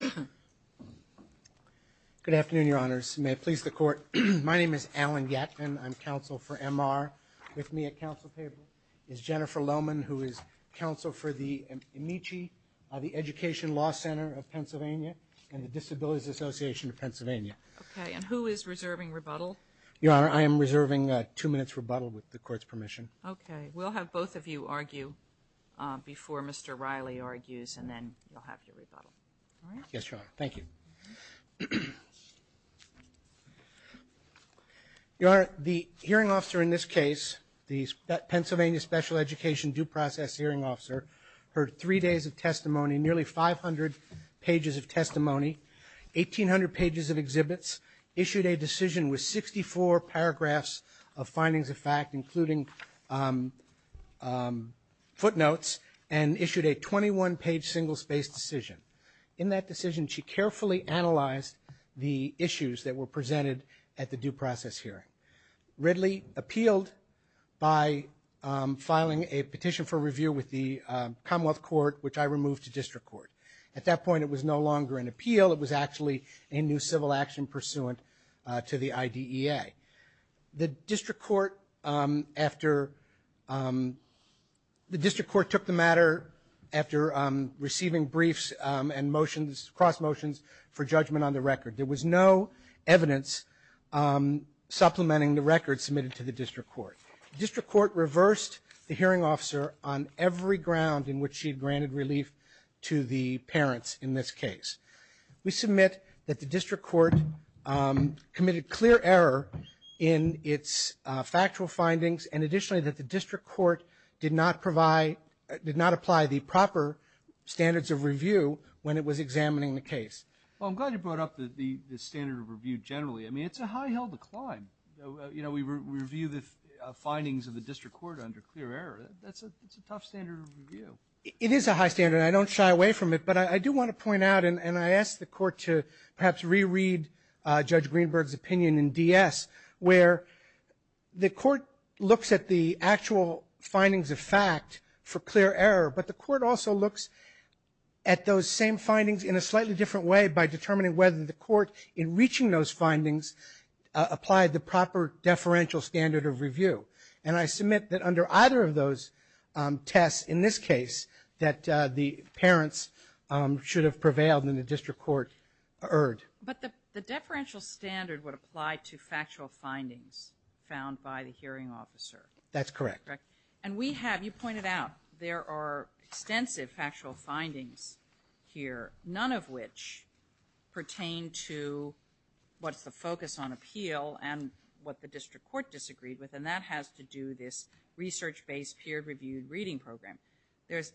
Good afternoon, Your Honors. May it please the Court, my name is Alan Yatvin, I'm counsel for M.R. With me at counsel table is Jennifer Lohmann, who is counsel for the AMICHE, the Education Law Center of Pennsylvania, and the Disabilities Association of Pennsylvania. Okay, and who is reserving rebuttal? Your Honor, I am reserving two minutes rebuttal with the Court's permission. Okay. We'll have both of you argue before Mr. Riley argues, and then you'll have your rebuttal. Yes, Your Honor. Thank you. Your Honor, the hearing officer in this case, the Pennsylvania Special Education Due Process Hearing Officer, heard three days of testimony, nearly 500 pages of testimony, 1,800 pages of exhibits, issued a decision with 64 paragraphs of findings of fact, including footnotes, and issued a 21-page single-space decision. In that decision, she carefully analyzed the issues that were presented at the due process hearing. Ridley appealed by filing a petition for review with the Commonwealth Court, which I removed to district court. At that point, it was no longer an appeal. It was actually a new civil action pursuant to the IDEA. The district court took the matter after receiving briefs and motions, cross motions, for judgment on the record. There was no evidence supplementing the record submitted to the district court. The district court reversed the hearing officer on every ground in which she had granted relief to the parents in this case. We submit that the district court committed clear error in its factual findings, and additionally, that the district court did not apply the proper standards of review when it was examining the case. Well, I'm glad you brought up the standard of review generally. I mean, it's a high-heeled decline. You know, we review the findings of the district court under clear error. That's a tough standard of review. It is a high standard. I don't shy away from it. But I do want to point out, and I ask the court to perhaps reread Judge Greenberg's opinion in DS, where the court looks at the actual findings of fact for clear error, but the court also looks at those same findings in a slightly different way by determining whether the court, in reaching those findings, applied the proper deferential standard of review. And I submit that under either of those tests, in this case, that the parents should have prevailed and the district court erred. But the deferential standard would apply to factual findings found by the hearing officer. That's correct. Correct? And we have, you pointed out, there are extensive factual findings here, none of which pertain to what's the focus on appeal and what the district court disagreed with. And that has to do with this research-based, peer-reviewed reading program. There's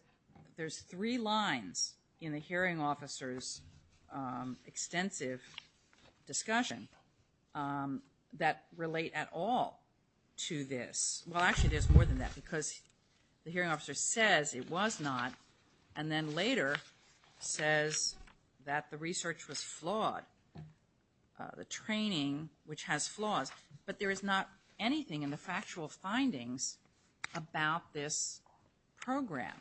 three lines in the hearing officer's extensive discussion that relate at all to this. Well, actually, there's more than that, because the hearing officer says it was not, and then later says that the research was flawed, the training, which has flaws. But there is not anything in the factual findings about this program.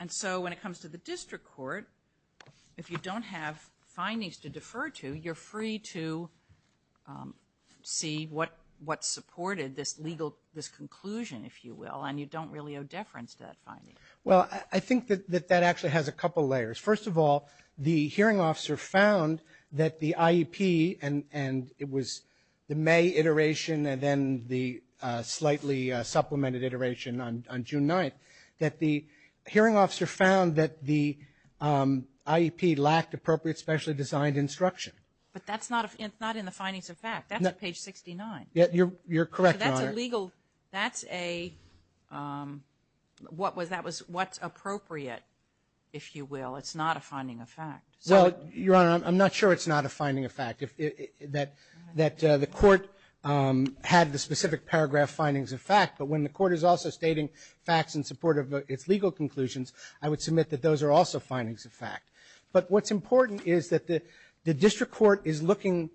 And so when it comes to the district court, if you don't have findings to defer to, you're free to see what supported this legal, this conclusion, if you will, and you don't really owe deference to that finding. Well, I think that that actually has a couple layers. First of all, the hearing officer found that the IEP, and it was the May iteration and then the slightly supplemented iteration on June 9th, that the hearing officer found that the IEP lacked appropriate, specially designed instruction. But that's not in the findings of fact, that's on page 69. You're correct, Your Honor. So that's a legal, that's a, what was, that was, what's appropriate, if you will. It's not a finding of fact. Well, Your Honor, I'm not sure it's not a finding of fact. That the court had the specific paragraph findings of fact, but when the court is also stating facts in support of its legal conclusions, I would submit that those are also findings of fact. But what's important is that the district court is looking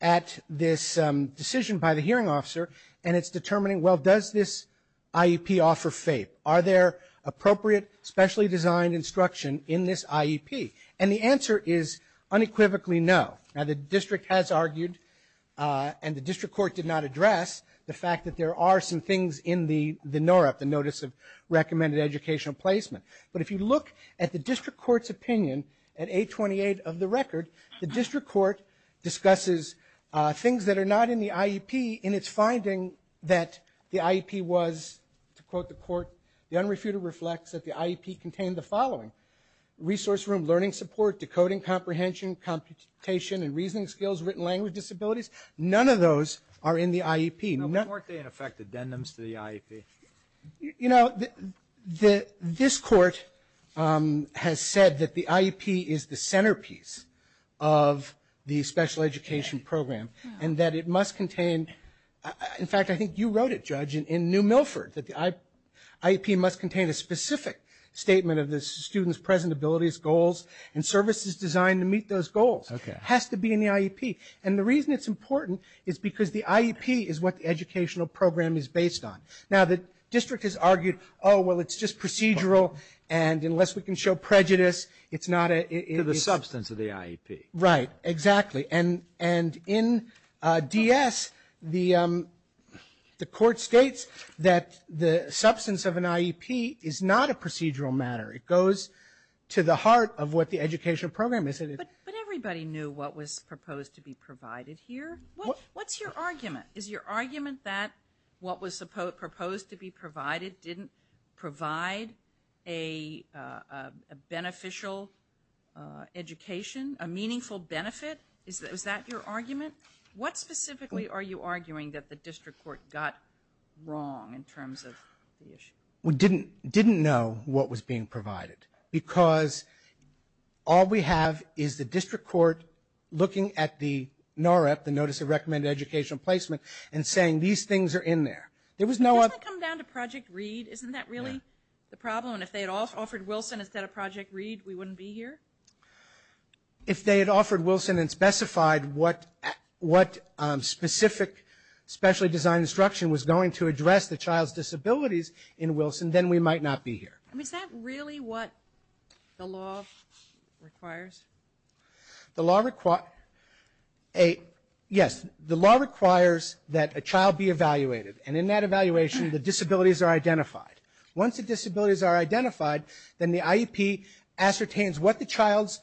at this decision by the hearing officer, and it's determining, well, does this IEP offer FAPE? Are there appropriate, specially designed instruction in this IEP? And the answer is unequivocally no. Now, the district has argued, and the district court did not address, the fact that there are some things in the NOREP, the Notice of Recommended Educational Placement. But if you look at the district court's opinion at 828 of the record, the district court discusses things that are not in the IEP, and it's finding that the IEP was, to quote the court, the unrefuted reflects that the IEP contained the following, resource room, learning support, decoding comprehension, computation and reasoning skills, written language disabilities. None of those are in the IEP. No, but weren't they, in effect, addendums to the IEP? You know, the, this court has said that the IEP is the centerpiece of the special education program, and that it must contain, in fact, I think you wrote it, Judge, in New Milford, that the IEP must contain a specific statement of the student's present abilities, goals, and services designed to meet those goals. Okay. Has to be in the IEP. And the reason it's important is because the IEP is what the educational program is based on. Now, the district has argued, oh, well, it's just procedural, and unless we can show prejudice, it's not a, it's a substance of the IEP. Right. Exactly. And, and in DS, the, the court states that the substance of an IEP is not a procedural matter. It goes to the heart of what the educational program is. But, but everybody knew what was proposed to be provided here. What's your argument? Is your argument that what was supposed, proposed to be provided didn't provide a, a beneficial education, a meaningful benefit? Is that, is that your argument? What specifically are you arguing that the district court got wrong in terms of the issue? We didn't, didn't know what was being provided because all we have is the district court looking at the NAREP, the Notice of Recommended Educational Placement, and saying these things are in there. There was no other. Doesn't that come down to Project READ? Isn't that really the problem? If they had offered Wilson instead of Project READ, we wouldn't be here? If they had offered Wilson and specified what, what specific specially designed instruction was going to address the child's disabilities in Wilson, then we might not be here. I mean, is that really what the law requires? The law require, a, yes, the law requires that a child be evaluated. And in that evaluation, the disabilities are identified. Once the disabilities are identified, then the IEP ascertains what the child's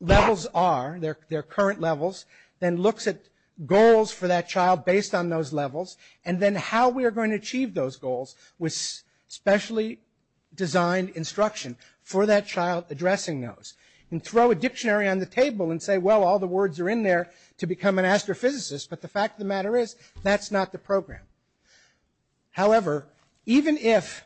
levels are, their, their current levels, then looks at goals for that child based on those levels, and then how we are going to achieve those goals with specially designed instruction for that child addressing those. And throw a dictionary on the table and say, well, all the words are in there to become an astrophysicist, but the fact of the matter is, that's not the program. However, even if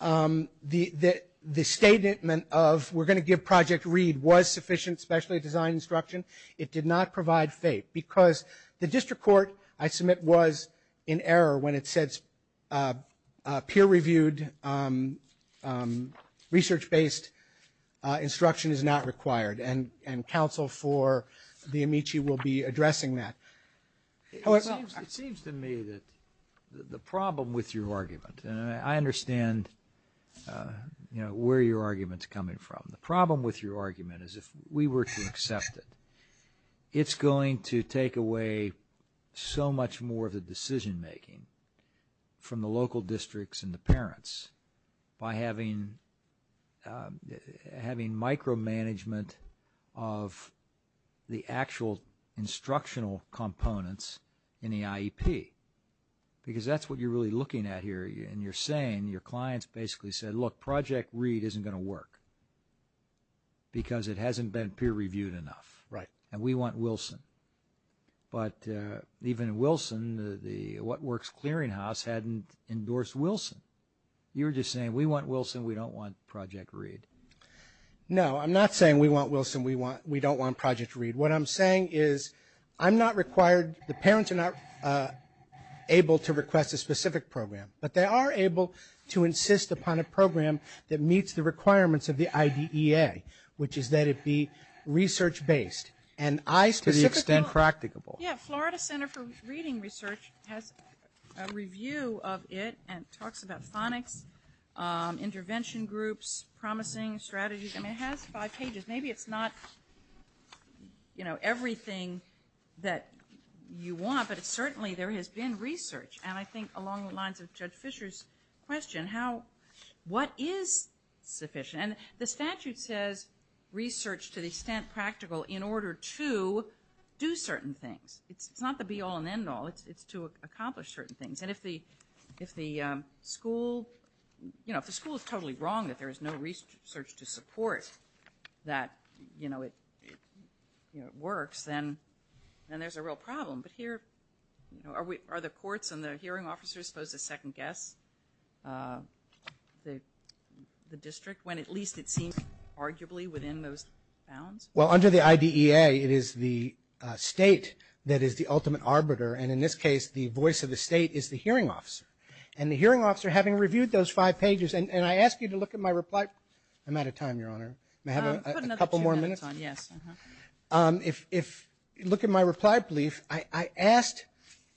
the, the, the statement of, we're going to give Project READ was sufficient specially designed instruction, it did not provide FAPE. Because the district court, I submit, was in error when it said peer reviewed, research based instruction is not required, and, and counsel for the AMICHI will be addressing that. It seems to me that the problem with your argument, and I understand, you know, where your argument's coming from. The problem with your argument is if we were to accept it, it's going to take away so much more of the decision making from the local districts and the parents by having, having micromanagement of the actual instructional components in the IEP. Because that's what you're really looking at here, and you're saying, your clients basically said, look, Project READ isn't going to work. Because it hasn't been peer reviewed enough. Right. And we want Wilson. But even Wilson, the, the What Works Clearinghouse hadn't endorsed Wilson. You were just saying, we want Wilson, we don't want Project READ. No, I'm not saying we want Wilson, we want, we don't want Project READ. What I'm saying is, I'm not required, the parents are not able to request a specific program, but they are able to insist upon a program that meets the requirements of the IDEA, which is that it be research based. And I specifically. To the extent practicable. Yeah, Florida Center for Reading Research has a review of it and talks about phonics, intervention groups, promising strategies, and it has five pages. Maybe it's not, you know, everything that you want, but it's certainly, there has been research. And I think along the lines of Judge Fisher's question, how, what is sufficient? And the statute says, research to the extent practical in order to do certain things. It's not the be all and end all. It's to accomplish certain things. And if the, if the school, you know, if the school is totally wrong that there is no research to support that, you know, it, you know, it works, then, then there's a real problem. But here, you know, are we, are the courts and the hearing officers supposed to second guess the, the district when at least it seems arguably within those bounds? Well under the IDEA, it is the state that is the ultimate arbiter, and in this case, the voice of the state is the hearing officer. And the hearing officer, having reviewed those five pages, and I ask you to look at my reply, I'm out of time, Your Honor. May I have a couple more minutes? Put another two minutes on, yes, uh-huh. If, if, look at my reply brief, I, I asked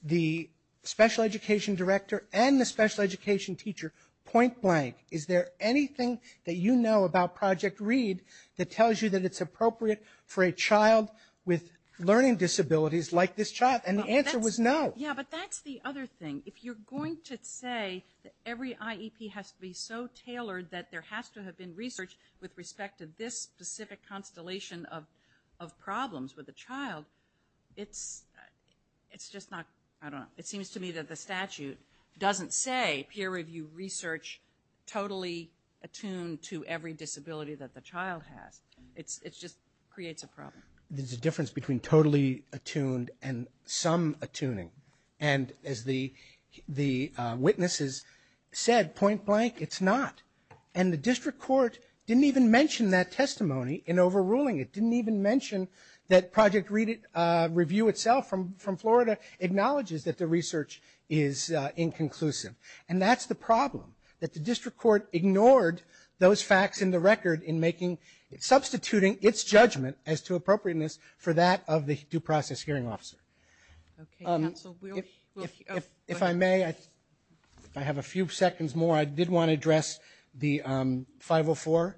the special education director and the special education teacher, point blank, is there anything that you know about Project READ that tells you that it's appropriate for a child with learning disabilities like this child? And the answer was no. Yeah, but that's the other thing. If you're going to say that every IEP has to be so tailored that there has to have been research with respect to this specific constellation of, of problems with a child, it's, it's just not, I don't know, it seems to me that the statute doesn't say peer review research totally attuned to every disability that the child has. It's, it's just creates a problem. There's a difference between totally attuned and some attuning. And as the, the witnesses said, point blank, it's not. And the district court didn't even mention that testimony in overruling it, didn't even mention that Project READ, uh, REVIEW itself from, from Florida acknowledges that the research is inconclusive. And that's the problem, that the district court ignored those facts in the record in making, substituting its judgment as to appropriateness for that of the due process hearing officer. Okay, counsel, we'll, we'll, oh. If I may, I, if I have a few seconds more, I did want to address the, um, 504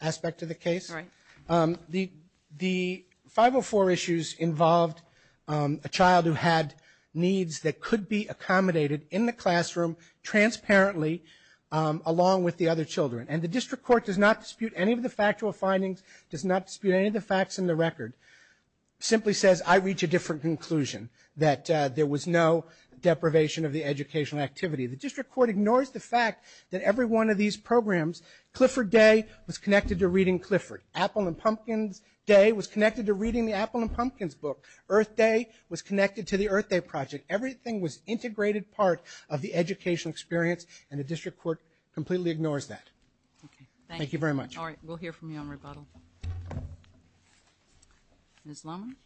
aspect of the case. All right. Um, the, the 504 issues involved, um, a child who had needs that could be accommodated in the classroom transparently, um, along with the other children. And the district court does not dispute any of the factual findings, does not dispute any of the facts in the record, simply says, I reach a different conclusion, that, uh, there was no deprivation of the educational activity. The district court ignores the fact that every one of these programs, Clifford Day was connected to reading Clifford. Apple and Pumpkin's Day was connected to reading the Apple and Pumpkin's book. Earth Day was connected to the Earth Day project. Everything was integrated part of the educational experience, and the district court completely ignores that. Okay. Thank you. Thank you very much. All right. We'll hear from you on rebuttal. Ms. Lohmann?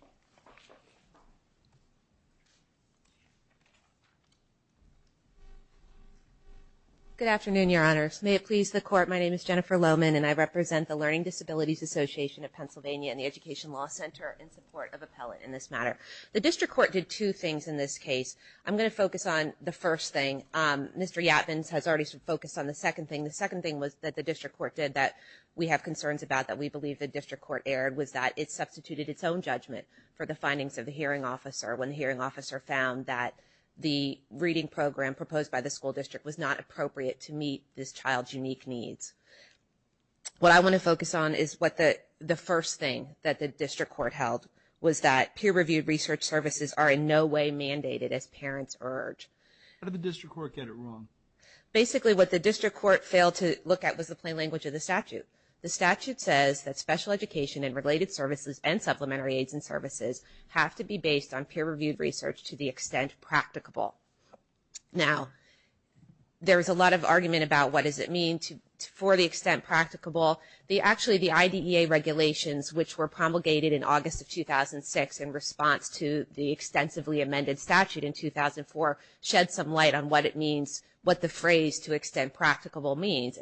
Good afternoon, Your Honors. May it please the Court, my name is Jennifer Lohmann, and I represent the Learning Disabilities Association of Pennsylvania and the Education Law Center in support of appellate in this matter. The district court did two things in this case. I'm going to focus on the first thing. Mr. Yatbins has already focused on the second thing. The second thing was that the district court did that we have concerns about that we believe the district court erred was that it substituted its own judgment for the findings of the hearing officer when the hearing officer found that the reading program proposed by the school district was not appropriate to meet this child's unique needs. What I want to focus on is what the first thing that the district court held was that peer-reviewed research services are in no way mandated as parents urge. How did the district court get it wrong? Basically, what the district court failed to look at was the plain language of the statute. The statute says that special education and related services and supplementary aids and services have to be based on peer-reviewed research to the extent practicable. Now, there's a lot of argument about what does it mean for the extent practicable. Actually, the IDEA regulations which were promulgated in August of 2006 in response to the extensively amended statute in 2004 shed some light on what it means, what the phrase to extent practicable means.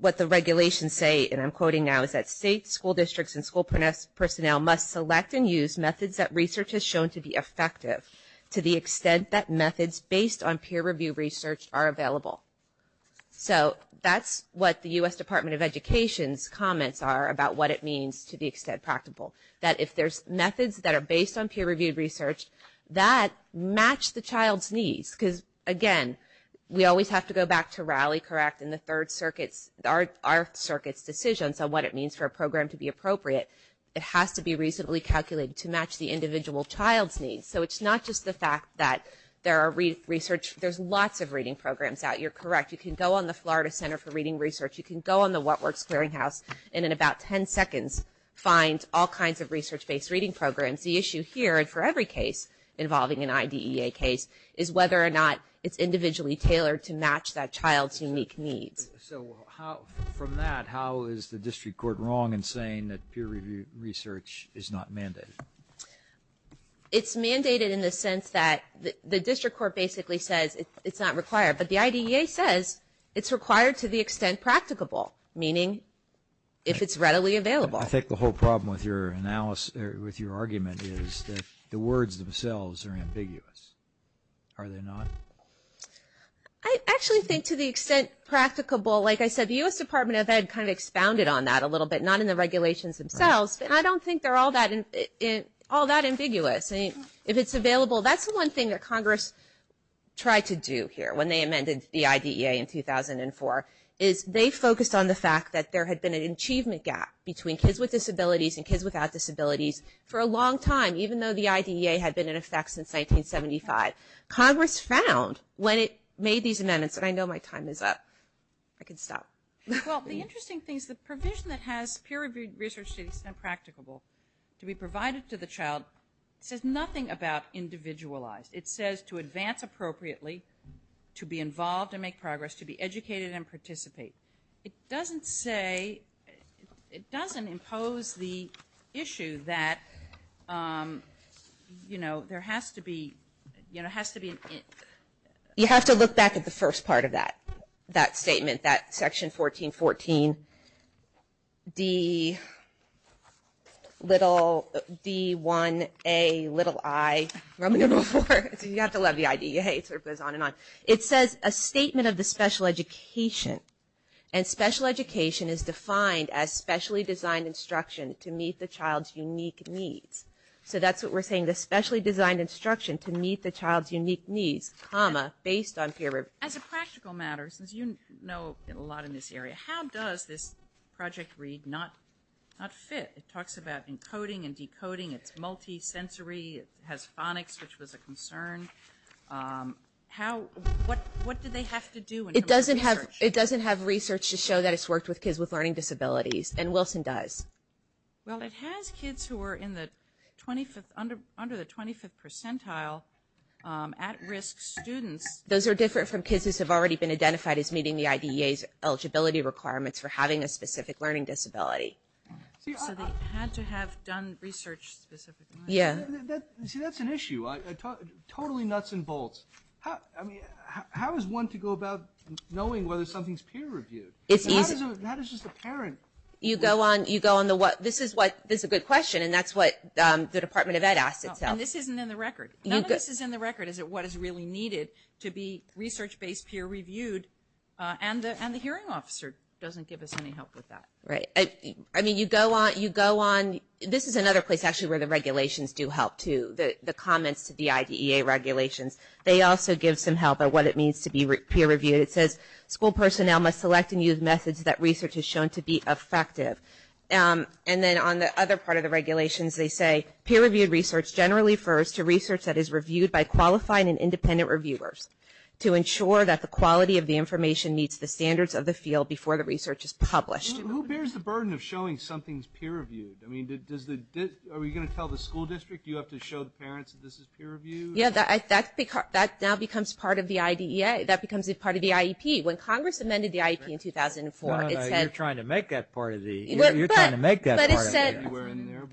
What the regulations say, and I'm quoting now, is that states, school districts, and school personnel must select and use methods that research has shown to be effective to the extent that methods based on peer-reviewed research are available. That's what the U.S. Department of Education's comments are about what it means to the extent practicable, that if there's methods that are based on peer-reviewed research that match the child's needs. Because, again, we always have to go back to Raleigh, correct, and the Third Circuit's, our circuit's decisions on what it means for a program to be appropriate. It has to be reasonably calculated to match the individual child's needs. So it's not just the fact that there are research, there's lots of reading programs out. You're correct. You can go on the Florida Center for Reading Research. You can go on the What Works Clearinghouse and in about 10 seconds find all kinds of research-based reading programs. The issue here, and for every case involving an IDEA case, is whether or not it's individually tailored to match that child's unique needs. So how, from that, how is the district court wrong in saying that peer-reviewed research is not mandated? It's mandated in the sense that the district court basically says it's not required. But the IDEA says it's required to the extent practicable, meaning if it's readily available. I think the whole problem with your argument is that the words themselves are ambiguous. Are they not? I actually think to the extent practicable, like I said, the U.S. Department of Ed kind of expounded on that a little bit, not in the regulations themselves. I don't think they're all that ambiguous. If it's available, that's the one thing that Congress tried to do here when they amended the IDEA in 2004, is they focused on the fact that there had been an achievement gap between kids with disabilities and kids without disabilities for a long time, even though the IDEA had been in effect since 1975. Congress found, when it made these amendments, and I know my time is up. I can stop. Well, the interesting thing is the provision that has peer-reviewed research is not practicable. To be provided to the child says nothing about individualized. It says to advance appropriately, to be involved and make progress, to be educated and participate. It doesn't say, it doesn't impose the issue that, you know, there has to be, you know, has to be an, you have to look back at the first part of that, that statement, that section 1414, D1Ai, you have to love the IDEA, it sort of goes on and on. It says, a statement of the special education, and special education is defined as specially designed instruction to meet the child's unique needs. So that's what we're saying, the specially designed instruction to meet the child's unique needs, comma, based on peer review. As a practical matter, since you know a lot in this area, how does this project read not fit? It talks about encoding and decoding, it's multi-sensory, it has phonics, which was a concern. How, what did they have to do in terms of research? It doesn't have research to show that it's worked with kids with learning disabilities, and Wilson does. Well, it has kids who are in the 25th, under the 25th percentile, at-risk students. Those are different from kids who have already been identified as meeting the IDEA's eligibility requirements for having a specific learning disability. So they had to have done research specifically. Yeah. See, that's an issue, totally nuts and bolts. I mean, how is one to go about knowing whether something's peer reviewed? It's easy. How does just a parent? You go on, you go on the, this is what, this is a good question, and that's what the Department of Ed asked itself. And this isn't in the record. None of this is in the record, is it, what is really needed to be research-based peer reviewed, and the hearing officer doesn't give us any help with that. Right. I mean, you go on, you go on, this is another place, actually, where the regulations do help too, the comments to the IDEA regulations. They also give some help on what it means to be peer reviewed. It says, school personnel must select and use methods that research has shown to be effective. And then on the other part of the regulations, they say, peer reviewed research generally refers to research that is reviewed by qualified and independent reviewers to ensure that the quality of the information meets the standards of the field before the research is published. Who bears the burden of showing something's peer reviewed? I mean, does the, are we going to tell the school district you have to show the parents that this is peer reviewed? Yeah, that now becomes part of the IDEA. That becomes part of the IEP. When Congress amended the IEP in 2004, it said. No, no, you're trying to make that part of the, you're trying to make that part of the IDEA.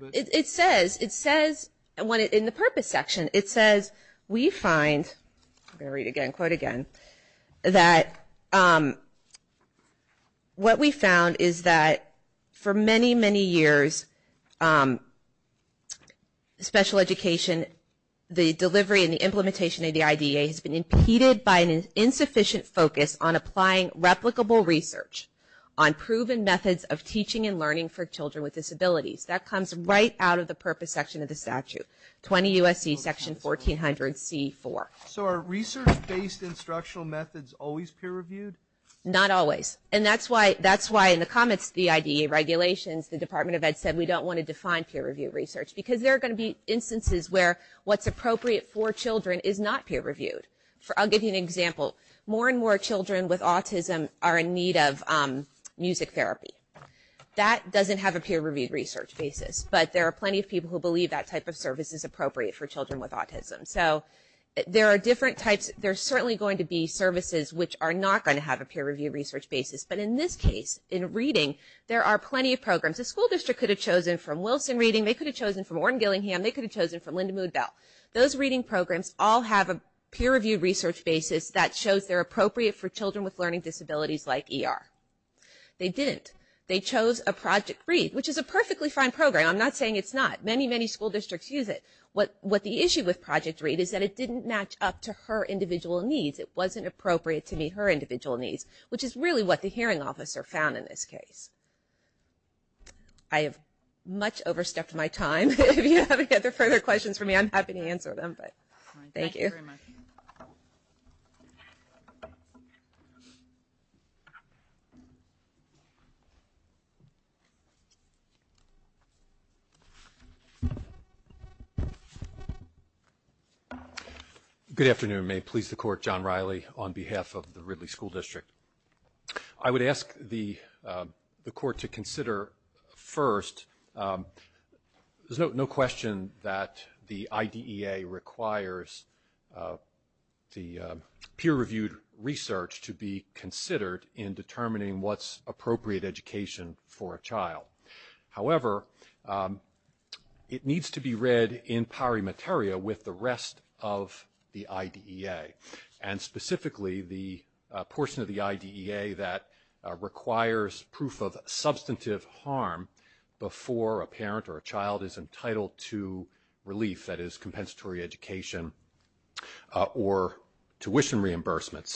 But it said. It says. It says, in the purpose section, it says, we find, I'm going to read it again, quote again, that what we found is that for many, many years, special education, the delivery and the implementation of the IDEA has been impeded by an insufficient focus on applying replicable research on proven methods of teaching and learning for children with disabilities. That comes right out of the purpose section of the statute. 20 U.S.C. Section 1400 C.4. So are research based instructional methods always peer reviewed? Not always. And that's why, that's why in the comments to the IDEA regulations, the Department of Ed said, we don't want to define peer reviewed research. Because there are going to be instances where what's appropriate for children is not peer reviewed. I'll give you an example. More and more children with autism are in need of music therapy. That doesn't have a peer reviewed research basis. But there are plenty of people who believe that type of service is appropriate for children with autism. So there are different types. There are certainly going to be services which are not going to have a peer reviewed research basis. But in this case, in reading, there are plenty of programs. The school district could have chosen from Wilson Reading. They could have chosen from Orrin Gillingham. They could have chosen from Linda Mood-Bell. Those reading programs all have a peer reviewed research basis that shows they're appropriate for children with learning disabilities like ER. They didn't. They chose a Project Read, which is a perfectly fine program. I'm not saying it's not. Many, many school districts use it. What the issue with Project Read is that it didn't match up to her individual needs. It wasn't appropriate to meet her individual needs, which is really what the hearing officer found in this case. I have much overstepped my time. If you have any further questions for me, I'm happy to answer them. Thank you. Thank you very much. Good afternoon. May it please the Court. John Riley on behalf of the Ridley School District. I would ask the Court to consider first, there's no question that the IDEA requires the peer reviewed research to be considered in determining what's appropriate education for a child. However, it needs to be read in pari materia with the rest of the IDEA. Specifically, the portion of the IDEA that requires proof of substantive harm before a parent or a child is entitled to relief that is compensatory education or tuition reimbursement.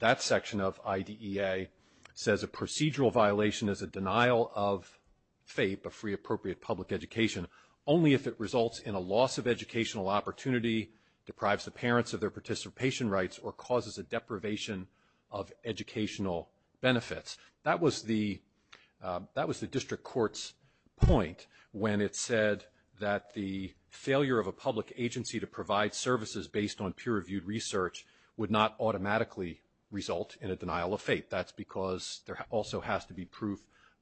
That section of IDEA says a procedural violation is a denial of FAPE, a free appropriate public education, only if it results in a loss of educational opportunity, deprives the parents of their participation rights, or causes a deprivation of educational benefits. That was the District Court's point when it said that the failure of a public agency to provide services based on peer reviewed research would not automatically result in a denial of FAPE. That's because there also has to be proof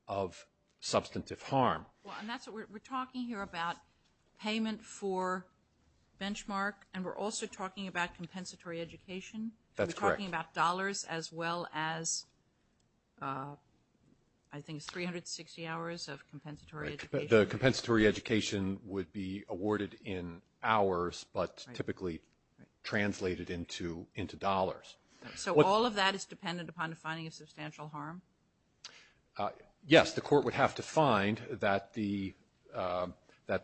of substantive harm. We're talking here about payment for benchmark, and we're also talking about compensatory education? That's correct. We're talking about dollars as well as, I think it's 360 hours of compensatory education? The compensatory education would be awarded in hours, but typically translated into dollars. So all of that is dependent upon defining a substantial harm? Yes. The court would have to find that the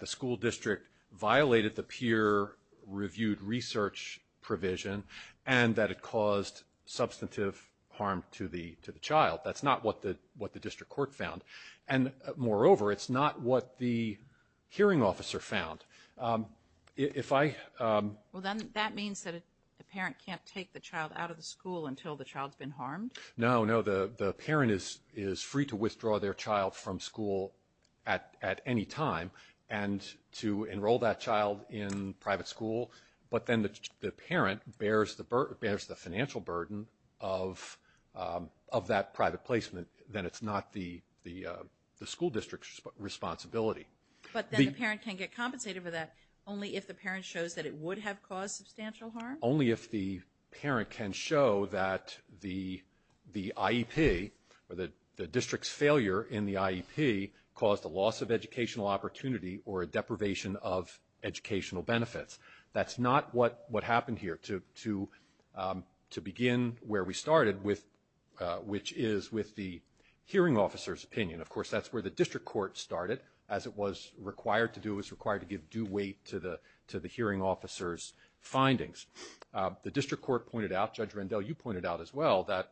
school district violated the peer reviewed research provision, and that it caused substantive harm to the child. That's not what the District Court found. Moreover, it's not what the hearing officer found. That means that the parent can't take the child out of the school until the child's been harmed? No. The parent is free to withdraw their child from school at any time and to enroll that child in private school, but then the parent bears the financial burden of that private placement. Then it's not the school district's responsibility. But then the parent can get compensated for that only if the parent shows that it would have caused substantial harm? Only if the parent can show that the IEP or the district's failure in the IEP caused a loss of educational opportunity or a deprivation of educational benefits. That's not what happened here to begin where we started, which is with the hearing officer's opinion. Of course, that's where the District Court started, as it was required to do. The District Court pointed out, Judge Rendell, you pointed out as well, that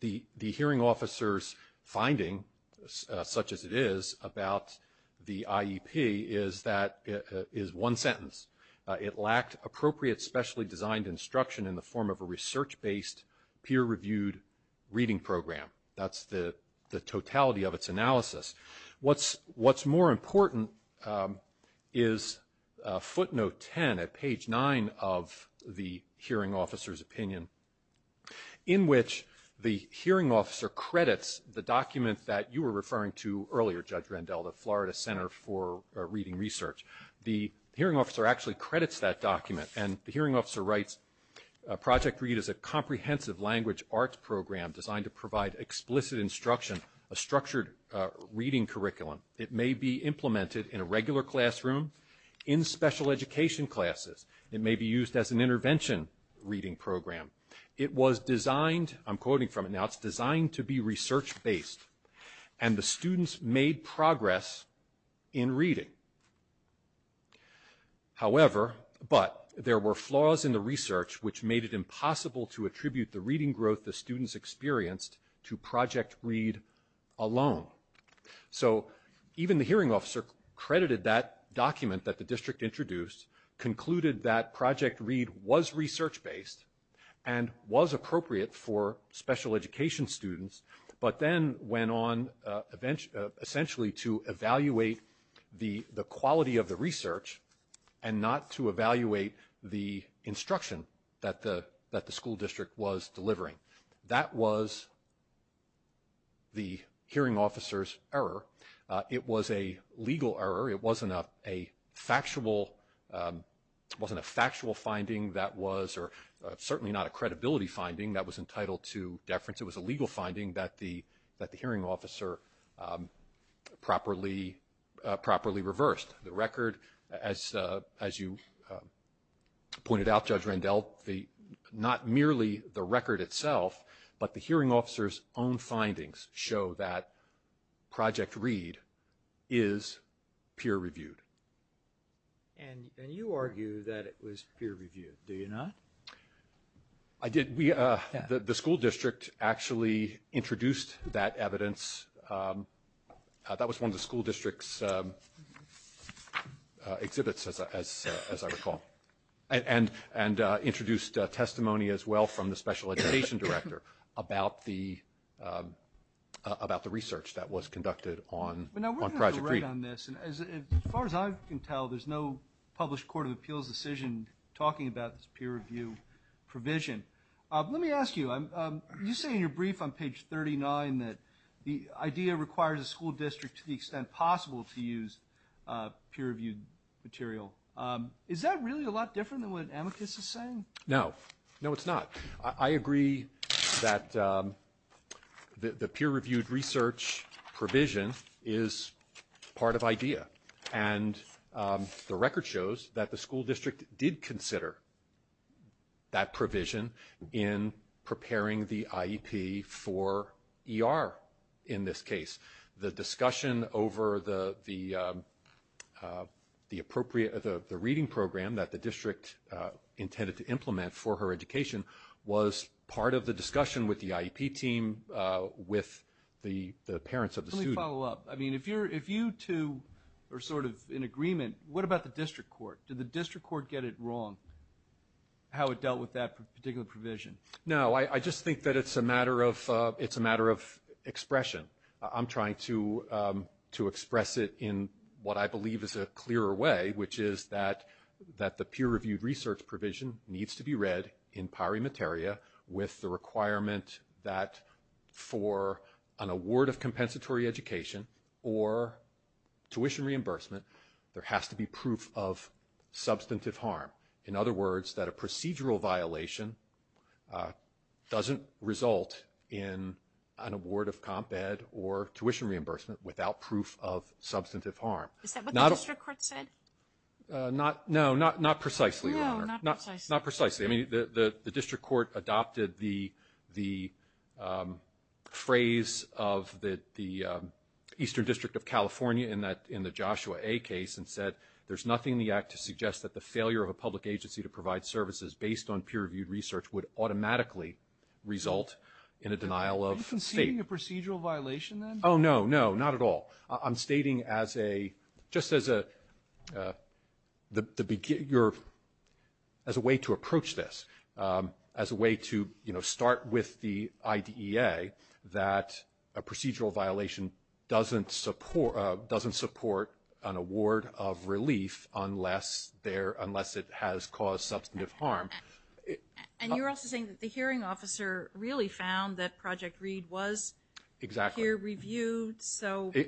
the hearing officer's finding, such as it is, about the IEP is one sentence. It lacked appropriate, specially designed instruction in the form of a research-based, peer-reviewed reading program. That's the totality of its analysis. What's more important is footnote 10 at page 9 of the hearing officer's opinion, in which the hearing officer credits the document that you were referring to earlier, Judge Rendell, the Florida Center for Reading Research. The hearing officer actually credits that document. And the hearing officer writes, project READ is a comprehensive language arts program designed to provide explicit instruction, a structured reading curriculum. It may be implemented in a regular classroom, in special education classes. It may be used as an intervention reading program. It was designed, I'm quoting from it now, it's designed to be research-based. And the students made progress in reading. However, but, there were flaws in the research which made it impossible to attribute the reading growth the students experienced to project READ alone. So even the hearing officer credited that document that the district introduced, concluded that project READ was research-based, and was appropriate for special education students, but then went on essentially to evaluate the quality of the research, and not to evaluate the instruction that the school district was delivering. That was the hearing officer's error. It was a legal error. It wasn't a factual, wasn't a factual finding that was, or certainly not a credibility finding that was entitled to deference. It was a legal finding that the hearing officer properly reversed. The record, as you pointed out, Judge Randell, not merely the record itself, but the hearing officer's own findings show that project READ is peer-reviewed. And you argue that it was peer-reviewed, do you not? I did. The school district actually introduced that evidence. That was one of the school district's exhibits, as I recall, and introduced testimony as well from the special education director about the research that was conducted on project READ. Now, we're going to have to write on this. As far as I can tell, there's no published Court of Appeals decision talking about this peer-review provision. Let me ask you, you say in your brief on page 39 that the idea requires a school district to the extent possible to use peer-reviewed material. Is that really a lot different than what Amicus is saying? No. No, it's not. I agree that the peer-reviewed research provision is part of IDEA. And the record shows that the school district did consider that provision in preparing the IEP for ER in this case. The discussion over the reading program that the district intended to implement for her education was part of the discussion with the IEP team with the parents of the student. Let me follow up. If you two are sort of in agreement, what about the district court? Did the district court get it wrong, how it dealt with that particular provision? No, I just think that it's a matter of expression. I'm trying to express it in what I believe is a clearer way, which is that the peer-reviewed research provision needs to be read in pari materia with the requirement that for an award of compensatory education or tuition reimbursement, there has to be proof of substantive harm. In other words, that a procedural violation doesn't result in an award of comp ed or tuition reimbursement without proof of substantive harm. Is that what the district court said? No, not precisely, Your Honor. No, not precisely. The district court adopted the phrase of the Eastern District of California in the Joshua A. case and said, there's nothing in the act to suggest that the failure of a public agency to provide services based on peer-reviewed research would automatically result in a denial of state. Are you conceding a procedural violation then? No, not at all. I'm stating just as a way to approach this, as a way to start with the IDEA, that a procedural violation doesn't support an award of relief unless it has caused substantive harm. And you're also saying that the hearing officer really found that Project READ was peer-reviewed?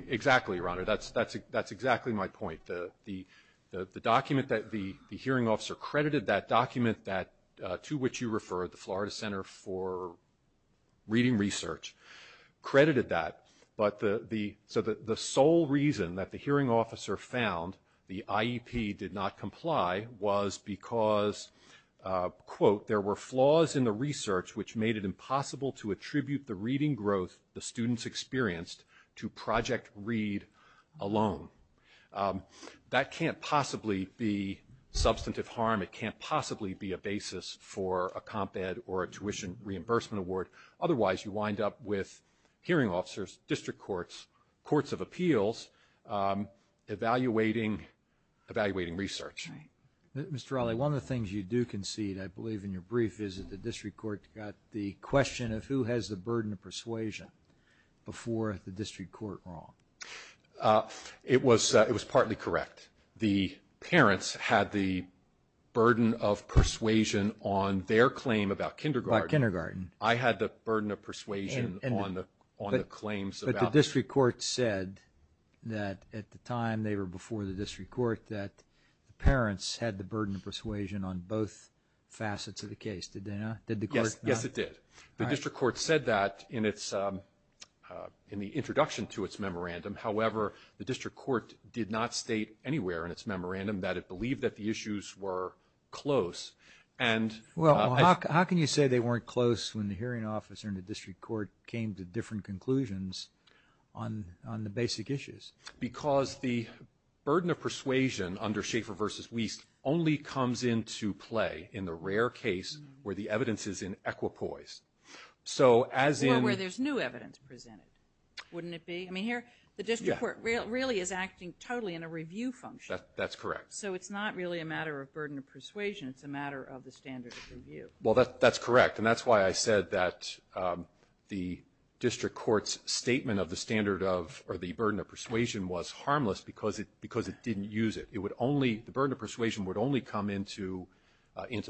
Exactly, Your Honor. That's exactly my point. The document that the hearing officer credited, that document to which you referred, the Florida Center for Reading Research, credited that. So the sole reason that the hearing officer found the IEP did not comply was because, quote, there were flaws in the research which made it impossible to attribute the reading growth the students experienced to Project READ alone. That can't possibly be substantive harm. It can't possibly be a basis for a comp ed or a tuition reimbursement award. Otherwise, you wind up with hearing officers, district courts, courts of appeals, evaluating research. Mr. Raleigh, one of the things you do concede, I believe in your brief, is that the district court got the question of who has the burden of persuasion before the district court wrong. It was partly correct. The parents had the burden of persuasion on their claim about kindergarten. I had the burden of persuasion on the claims about... But the district court said that at the time they were before the district court that the parents had the burden of persuasion on both facets of the case, did they not? Yes, it did. The district court said that in the introduction to its memorandum. However, the district court did not state anywhere in its memorandum that it believed that the issues were close. How can you say they weren't close when the hearing officer and the district court came to different conclusions on the basic issues? Because the burden of persuasion under Schaefer v. Wiest only comes into play in the rare case where the evidence is in equipoise. Or where there's new evidence presented, wouldn't it be? The district court really is acting totally in a review function. That's correct. So it's not really a matter of burden of persuasion, it's a matter of the standard of review. That's correct, and that's why I said that the district court's statement of the burden of persuasion was harmless because it didn't use it. The burden of persuasion would only come into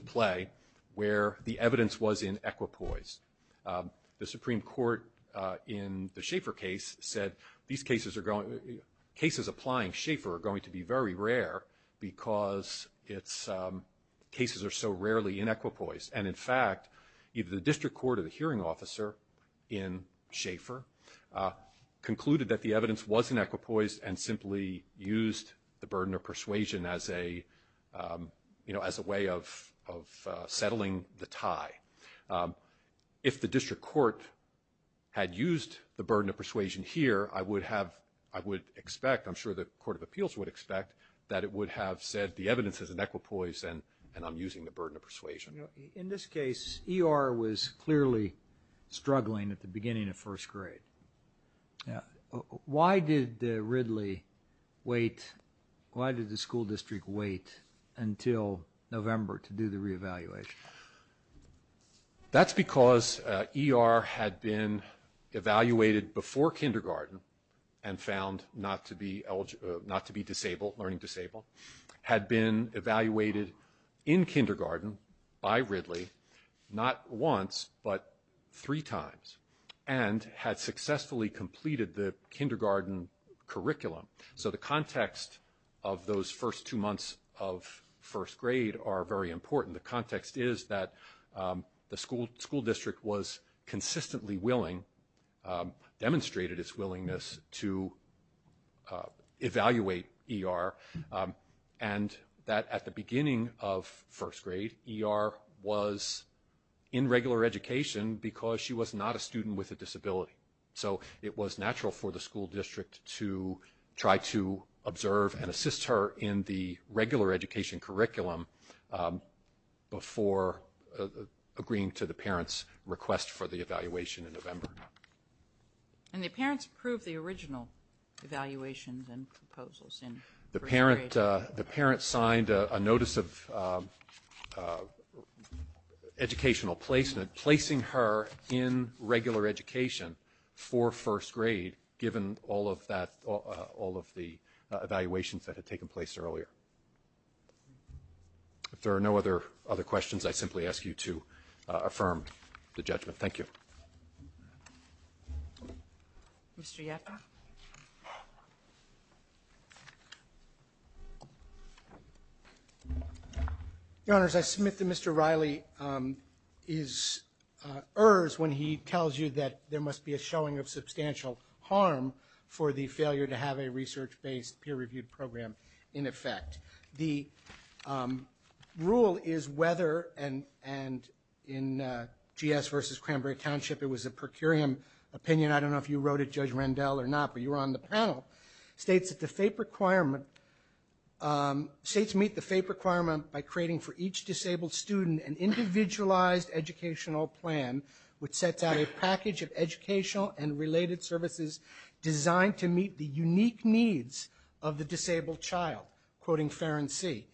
play where the evidence was in equipoise. The Supreme Court in the Schaefer case said, cases applying Schaefer are going to be very rare because cases are so rarely in equipoise. And in fact, the district court of the hearing officer in Schaefer concluded that the evidence was in equipoise and simply used the burden of persuasion as a way of settling the tie. If the district court had used the burden of persuasion here, I would expect, I'm sure the Court of Appeals would expect, that it would have said the evidence is in equipoise and I'm using the burden of persuasion. In this case, ER was clearly struggling at the beginning of first grade. Why did Ridley wait, why did the school district wait until November to do the reevaluation? That's because ER had been evaluated before kindergarten and found not to be disabled, learning disabled, had been evaluated in kindergarten by Ridley, not once, but three times, and had successfully completed the kindergarten curriculum. So the context of those first two months of first grade are very important. The context is that the school district was consistently willing, demonstrated its willingness to evaluate ER, and that at the beginning of first grade, ER was in regular education because she was not a student with a disability. So it was natural for the school district to try to observe and assist her in the regular education curriculum before agreeing to the parents' request for the evaluation in November. And the parents approved the original evaluations and proposals in first grade? The parents signed a notice of educational placement, placing her in regular education for first grade, given all of that, all of the evaluations that had taken place earlier. If there are no other questions, I simply ask you to affirm the judgment. Thank you. Thank you. Mr. Yetta? Your Honors, I submit that Mr. Riley is, errs when he tells you that there must be a showing of substantial harm for the failure to have a research-based peer-reviewed program in effect. The rule is whether, and in GS v. Cranberry Township, it was a per curiam opinion, I don't know if you wrote it, Judge Rendell, or not, but you were on the panel, states that the FAPE requirement, states meet the FAPE requirement by creating for each disabled student an individualized educational plan which sets out a package of educational and related services designed to meet the unique needs of the disabled child. Quoting Ferren C.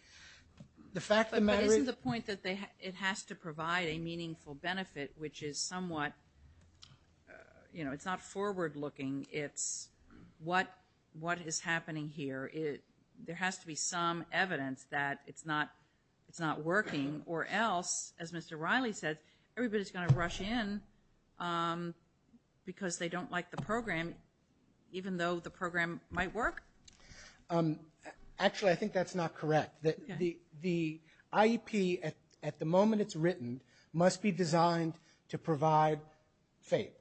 But isn't the point that it has to provide a meaningful benefit, which is somewhat, you know, it's not forward-looking, it's what is happening here? There has to be some evidence that it's not working, or else, as Mr. Riley said, everybody's going to rush in because they don't like the program, even though the program might work? Actually, I think that's not correct. The IEP, at the moment it's written, must be designed to provide FAPE.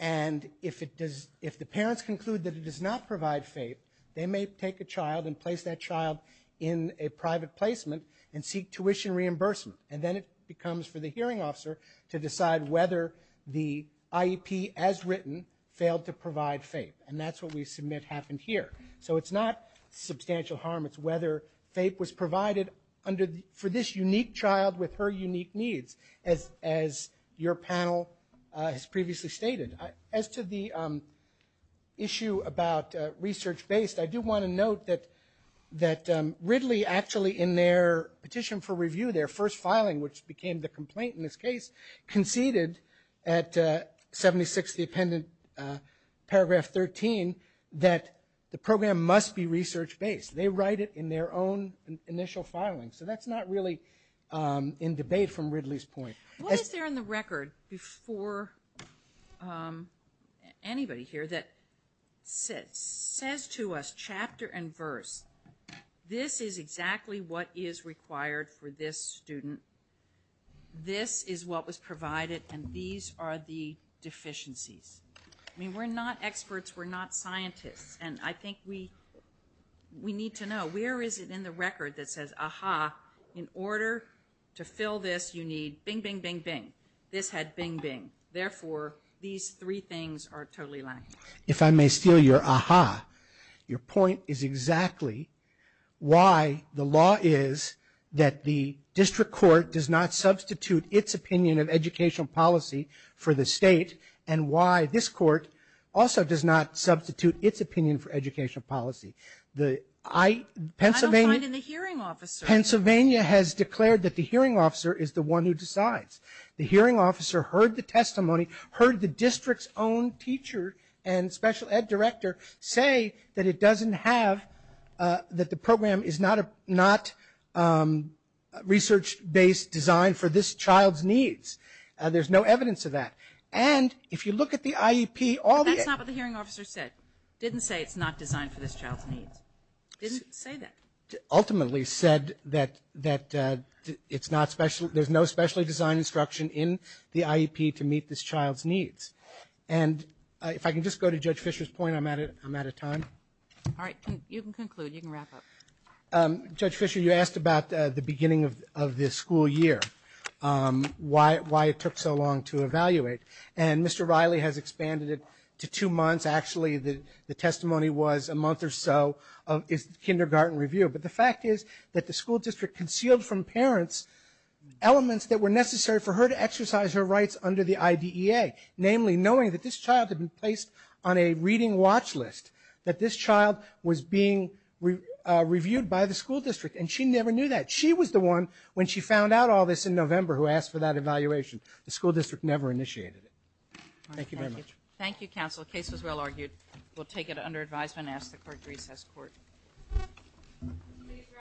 And if the parents conclude that it does not provide FAPE, they may take a child and place that child in a private placement and seek tuition reimbursement, and then it becomes for the hearing officer to decide whether the IEP, as written, failed to provide FAPE. And that's what we submit happened here. So it's not substantial harm, it's whether FAPE was provided for this unique child with her unique needs, as your panel has previously stated. As to the issue about research-based, I do want to note that Ridley actually, in their petition for review, their first filing, which became the complaint in this case, conceded at 76, the appendant, paragraph 13, that the program must be research-based. They write it in their own initial filing. So that's not really in debate from Ridley's point. What is there in the record before anybody here that says to us, chapter and verse, this is exactly what is required for this student, this is what was provided, and these are the deficiencies? I mean, we're not experts, we're not scientists. And I think we need to know, where is it in the record that says, aha, in order to fill this you need, bing, bing, bing, bing. This had bing, bing. Therefore, these three things are totally lacking. If I may steal your aha, your point is exactly why the law is that the district court does not substitute its opinion of educational policy for the state, and why this court also does not substitute its opinion for educational policy. I don't find in the hearing officer. Pennsylvania has declared that the hearing officer is the one who decides. The hearing officer heard the testimony, heard the district's own teacher and special ed director say that it doesn't have, that the program is not research-based design for this child's needs. There's no evidence of that. And if you look at the IEP, all the- That's not what the hearing officer said. Didn't say it's not designed for this child's needs. Didn't say that. Ultimately said that it's not special, there's no specially designed instruction in the IEP to meet this child's needs. And if I can just go to Judge Fisher's point, I'm out of time. All right, you can conclude, you can wrap up. Judge Fisher, you asked about the beginning of this school year. Why it took so long to evaluate. And Mr. Riley has expanded it to two months. Actually, the testimony was a month or so of his kindergarten review. But the fact is that the school district concealed from parents elements that were necessary for her to exercise her rights under the IDEA. Namely, knowing that this child had been placed on a reading watch list. That this child was being reviewed by the school district. And she never knew that. She was the one, when she found out all this in November, who asked for that evaluation. The school district never initiated it. Thank you very much. Thank you, counsel. The case was well argued. We'll take it under advisement and ask the court to recess court.